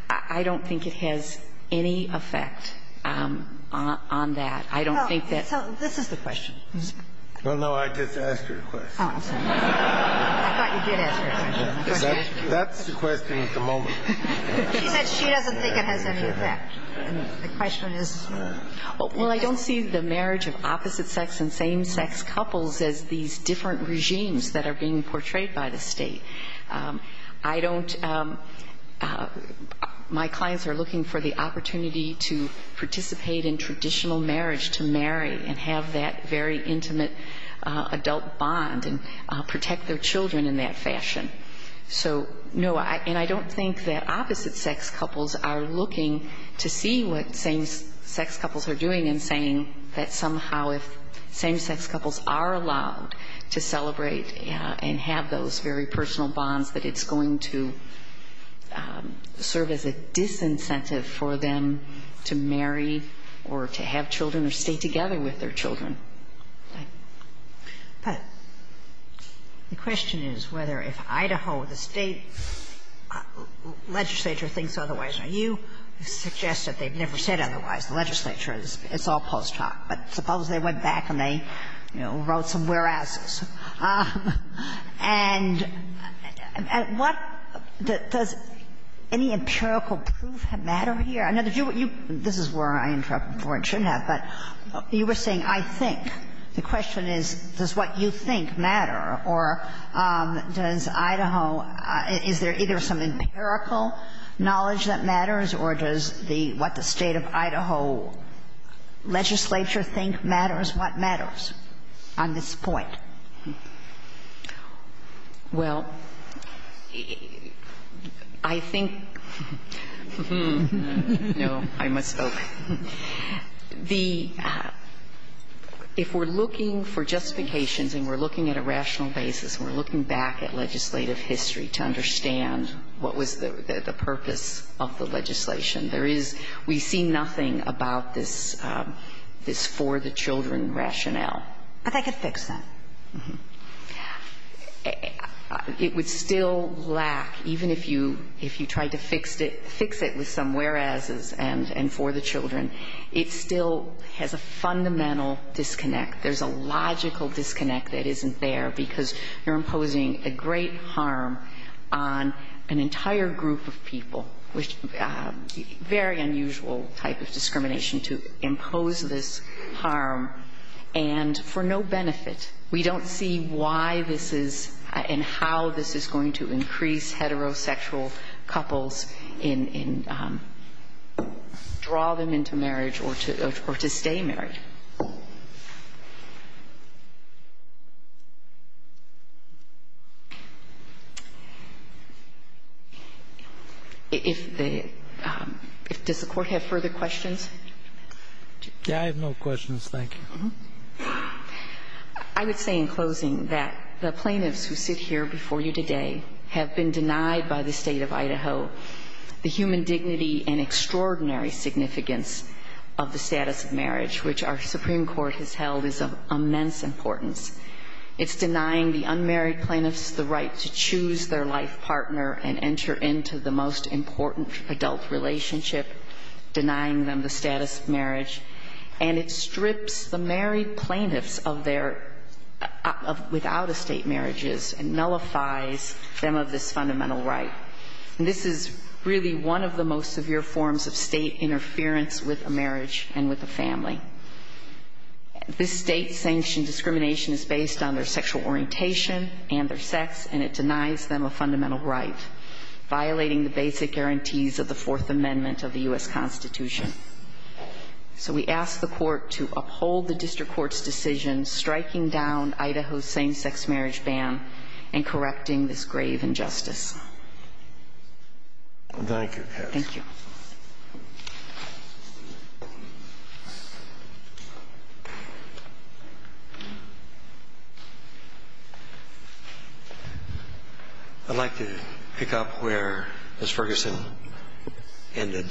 I don't think it has any effect on that. I don't think that – So this is the question. Well, no, I just asked her a question. I thought you did ask her a question. That's the question at the moment. She said she doesn't think it has any effect. Well, I don't see the marriage of opposite-sex and same-sex couples as these different regimes that are being portrayed by the State. I don't – my clients are looking for the opportunity to participate in traditional marriage, to marry and have that very intimate adult bond and protect their children in that fashion. So, no, and I don't think that opposite-sex couples are looking to see what same-sex couples are allowed to celebrate and have those very personal bonds, that it's going to serve as a disincentive for them to marry or to have children or stay together with their children. But the question is whether if Idaho, the State legislature, thinks otherwise. Now, you suggest that they've never said otherwise. The legislature is – it's all post hoc, but suppose they went back and they, you know, wrote some whereases. And what – does any empirical proof matter here? I know that you – this is where I interrupted before and shouldn't have, but you were saying, I think. The question is, does what you think matter, or does Idaho – is there either some goal, legislature-think-matters-what-matters on this point? Well, I think – no, I misspoke. The – if we're looking for justifications and we're looking at a rational basis and we're looking back at legislative history to understand what was the purpose of the legislation, there is – we see nothing about this for-the-children rationale. But they could fix that. It would still lack – even if you tried to fix it with some whereases and for-the-children, it still has a fundamental disconnect. There's a logical disconnect that isn't there because you're imposing a great harm on an individual with very unusual type of discrimination to impose this harm and for no benefit. We don't see why this is and how this is going to increase heterosexual couples in – draw them into marriage or to stay married. If the – does the Court have further questions? I have no questions, thank you. I would say in closing that the plaintiffs who sit here before you today have been denied by the State of Idaho the human dignity and extraordinary significance of the status of marriage that the Supreme Court has held is of immense importance. It's denying the unmarried plaintiffs the right to choose their life partner and enter into the most important adult relationship, denying them the status of marriage. And it strips the married plaintiffs of their – without estate marriages and nullifies them of this fundamental right. And this is really one of the most severe forms of state interference with a marriage and with a family. This state-sanctioned discrimination is based on their sexual orientation and their sex, and it denies them a fundamental right, violating the basic guarantees of the Fourth Amendment of the U.S. Constitution. So we ask the Court to uphold the district court's decision striking down Idaho's same-sex marriage ban and correcting this grave injustice. Thank you. I'd like to pick up where Ms. Ferguson ended,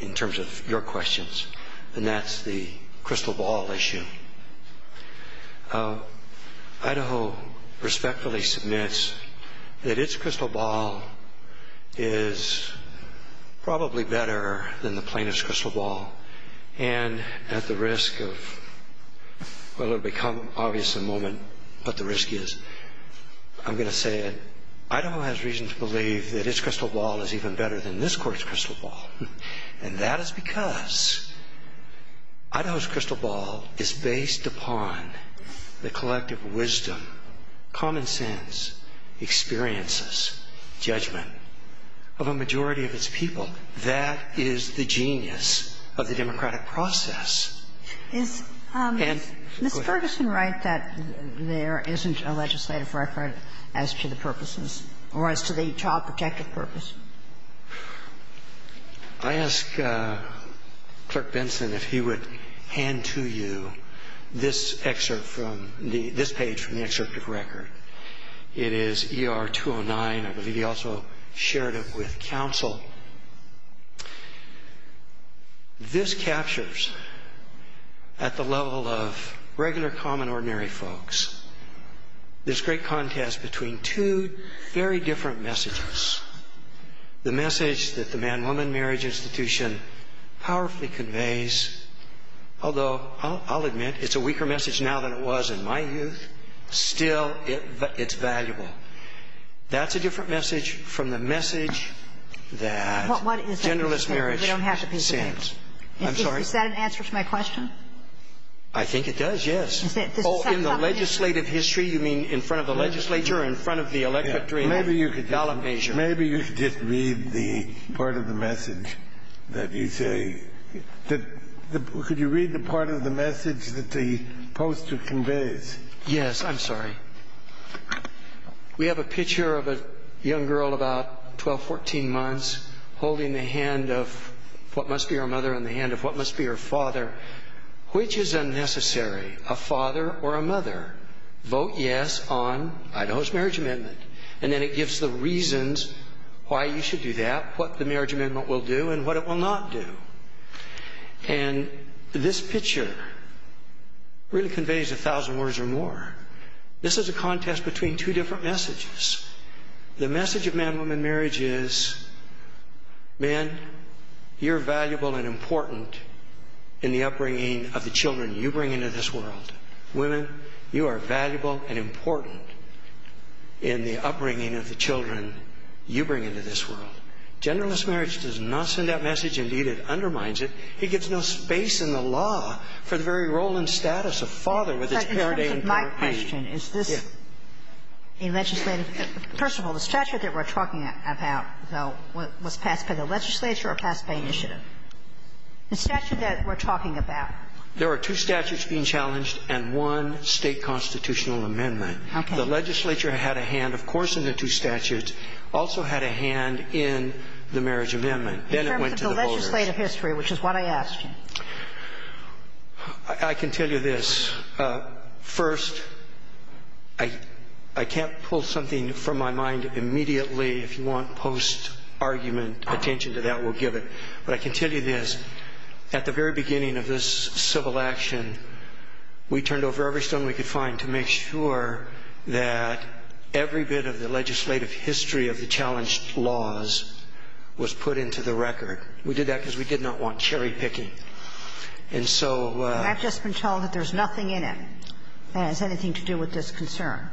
in terms of the questions, and that's the crystal ball issue. Idaho respectfully submits that its crystal ball is probably better than the plaintiff's crystal ball, and at the risk of – well, it will become obvious in a moment what the risk is – I'm going to say it. Idaho has reason to believe that its crystal ball is even better than this Court's crystal ball, and that is because Idaho's crystal ball is based upon the collective wisdom, common sense, experiences, judgment of a majority of its people. That is the genius of the democratic process. Is Ms. Ferguson right that there isn't a legislative record as to the purposes or as to the child protective purpose? I ask Clerk Benson if he would hand to you this excerpt from the – this page from the excerpt of the record. It is ER 209. I believe he also shared it with counsel. This captures, at the level of regular, common, ordinary folks, this great contest between two very different messages. The message that the Man-Woman Marriage Institution powerfully conveys – although I'll admit it's a weaker message now than it was in my youth – still, it's valuable. That's a different message from the message that genderless marriage sends. I'm sorry. Is that an answer to my question? I think it does, yes. Oh, in the legislative history? You mean in front of the legislature or in front of the electorate? Maybe you could just read the part of the message that you say – could you read the part of the message that the poster conveys? Yes, I'm sorry. We have a picture of a young girl about 12, 14 months holding the hand of what must be her mother and the hand of what must be her father. Which is unnecessary? A father or a mother? Vote yes on Idaho's marriage amendment. And then it gives the reasons why you should do that, what the marriage amendment will do and what it will not do. And this picture really conveys a thousand words or more. This is a contest between two different messages. The message of man-woman marriage is, men, you're valuable and important in the upbringing of the children you bring into this world. Women, you are valuable and important in the upbringing of the children you bring into this world. Genderless marriage does not send that message. Indeed, it undermines it. It gives no space in the law for the very role and status of father with his parent to play in court. My question, is this a legislative? First of all, the statute that we're talking about, though, was passed by the legislature or passed by initiative? The statute that we're talking about. There are two statutes being challenged and one state constitutional amendment. Okay. The legislature had a hand, of course, in the two statutes, also had a hand in the marriage amendment. Then it went to the voters. In terms of the legislative history, which is what I asked you. I can tell you this. First, I can't pull something from my mind immediately. If you want post-argument attention to that, we'll give it. But I can tell you this, at the very beginning of this civil action, we turned over every stone we could find to make sure that every bit of the legislative history of the challenged laws was put into the record. We did that because we did not want cherry-picking. And so ---- I've just been told that there's nothing in it that has anything to do with this concern.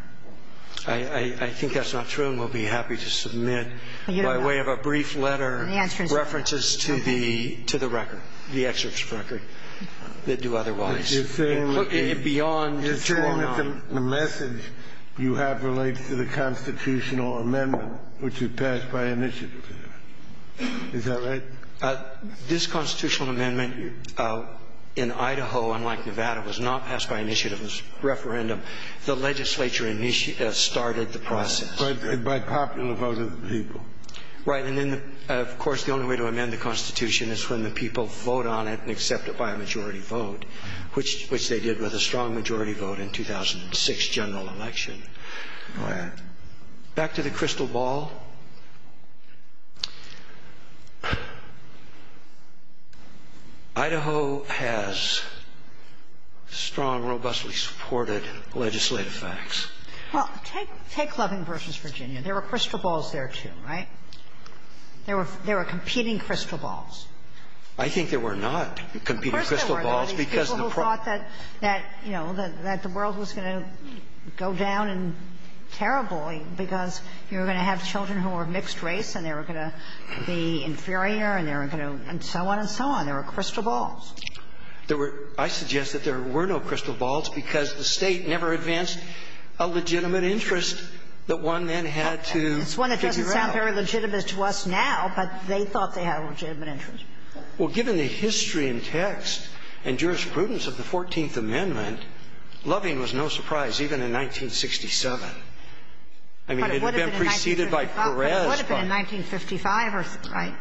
I think that's not true, and we'll be happy to submit, by way of a brief letter, references to the record, the excerpts from the record that do otherwise. But you're saying that the message you have relates to the constitutional amendment, which was passed by initiative. Is that right? This constitutional amendment in Idaho, unlike Nevada, was not passed by initiative. It was referendum. The legislature started the process. By popular vote of the people. Right. And then, of course, the only way to amend the Constitution is when the people vote on it and accept it by a majority vote, which they did with a strong majority vote in 2006 general election. Right. Back to the crystal ball. Idaho has strong, robustly supported legislative facts. Well, take Loving v. Virginia. There were crystal balls there, too. Right? There were competing crystal balls. I think there were not competing crystal balls because the problem ---- Of course there were. I think there were because you were going to have children who were of mixed race and they were going to be inferior and they were going to ---- and so on and so on. There were crystal balls. There were ---- I suggest that there were no crystal balls because the State never advanced a legitimate interest that one then had to figure out. Well, it's one that doesn't sound very legitimate to us now, but they thought they had a legitimate interest. Well, given the history and text and jurisprudence of the 14th Amendment, Loving was no surprise even in 1967. I mean, it had been preceded by Perez ---- But it would have been in 1955, right?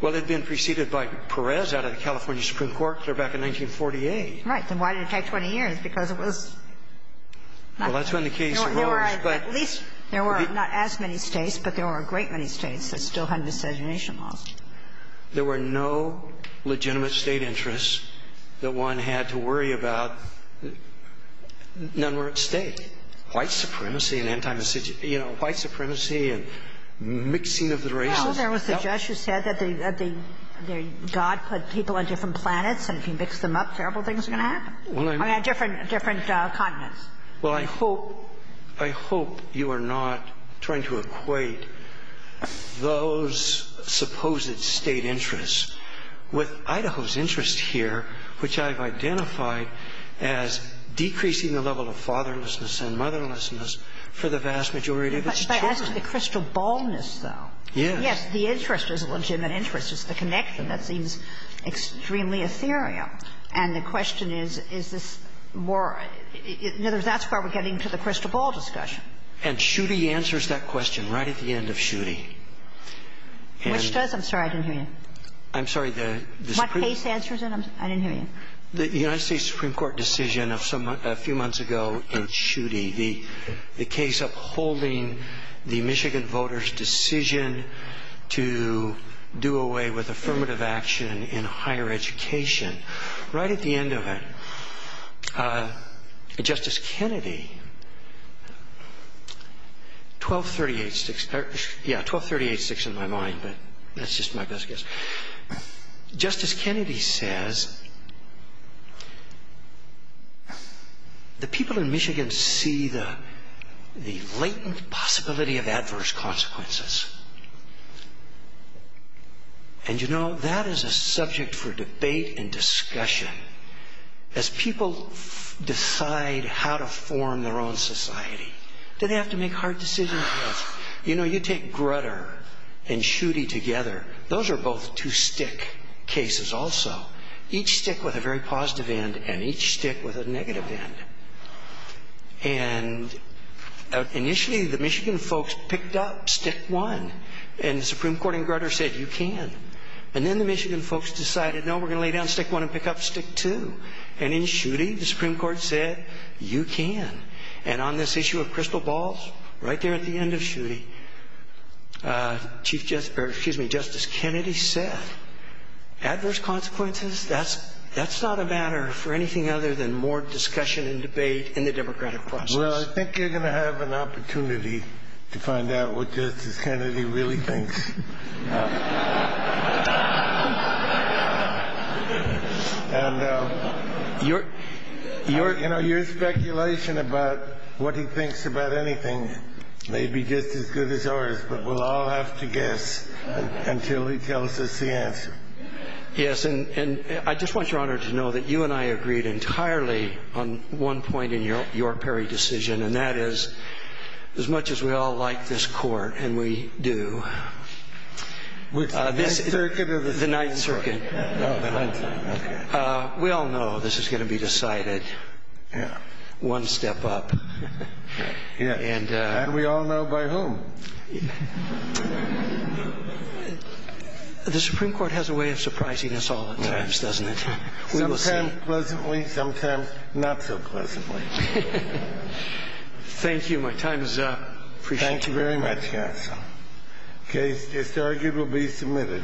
Well, it had been preceded by Perez out of the California Supreme Court clear back in 1948. Right. Then why did it take 20 years? Because it was not ---- Well, that's when the case arose, but ---- There were not as many States, but there were a great many States that still had miscegenation laws. There were no legitimate State interests that one had to worry about. None were at stake. White supremacy and anti-miscegenation ---- you know, white supremacy and mixing of the races. Well, there was the judge who said that the God put people on different planets and if you mix them up, terrible things are going to happen. Well, I ---- I mean, different continents. Well, I hope you are not trying to equate those supposed State interests with Idaho's interests here, which I've identified as decreasing the level of fatherlessness and motherlessness for the vast majority of its children. But as to the crystal ballness, though. Yes. Yes. The interest is a legitimate interest. It's the connection that seems extremely ethereal. And the question is, is this more ---- in other words, that's where we're getting to the crystal ball discussion. And Schutte answers that question right at the end of Schutte. Which does? I'm sorry. I didn't hear you. I'm sorry. What case answers it? I didn't hear you. The United States Supreme Court decision a few months ago in Schutte, the case upholding the Michigan voters' decision to do away with affirmative action in higher education right at the end of it. Justice Kennedy, 1238-6. Yeah, 1238-6 in my mind, but that's just my best guess. Justice Kennedy says, the people in Michigan see the latent possibility of adverse consequences. And, you know, that is a subject for debate and discussion. As people decide how to form their own society, do they have to make hard decisions? Yes. You know, you take Grutter and Schutte together. Those are both two stick cases also. Each stick with a very positive end and each stick with a negative end. And initially, the Michigan folks picked up stick one. And the Supreme Court in Grutter said, you can. And then the Michigan folks decided, no, we're going to lay down stick one and pick up stick two. And in Schutte, the Supreme Court said, you can. And on this issue of crystal balls, right there at the end of Schutte, Chief Justice, or excuse me, Justice Kennedy said, adverse consequences, that's not a matter for anything other than more discussion and debate in the democratic process. Well, I think you're going to have an opportunity to find out what Justice Kennedy really thinks. And, you know, your speculation about what he thinks about anything may be just as good as ours, but we'll all have to guess until he tells us the answer. Yes, and I just want Your Honor to know that you and I agreed entirely on one point in your Perry decision, and that is, as much as we all like this court, and we do. Which, the Ninth Circuit or the Supreme Court? The Ninth Circuit. Oh, the Ninth Circuit, okay. We all know this is going to be decided one step up. And we all know by whom. The Supreme Court has a way of surprising us all at times, doesn't it? Sometimes pleasantly, sometimes not so pleasantly. Thank you. My time is up. Thank you very much, counsel. The case is arguably submitted.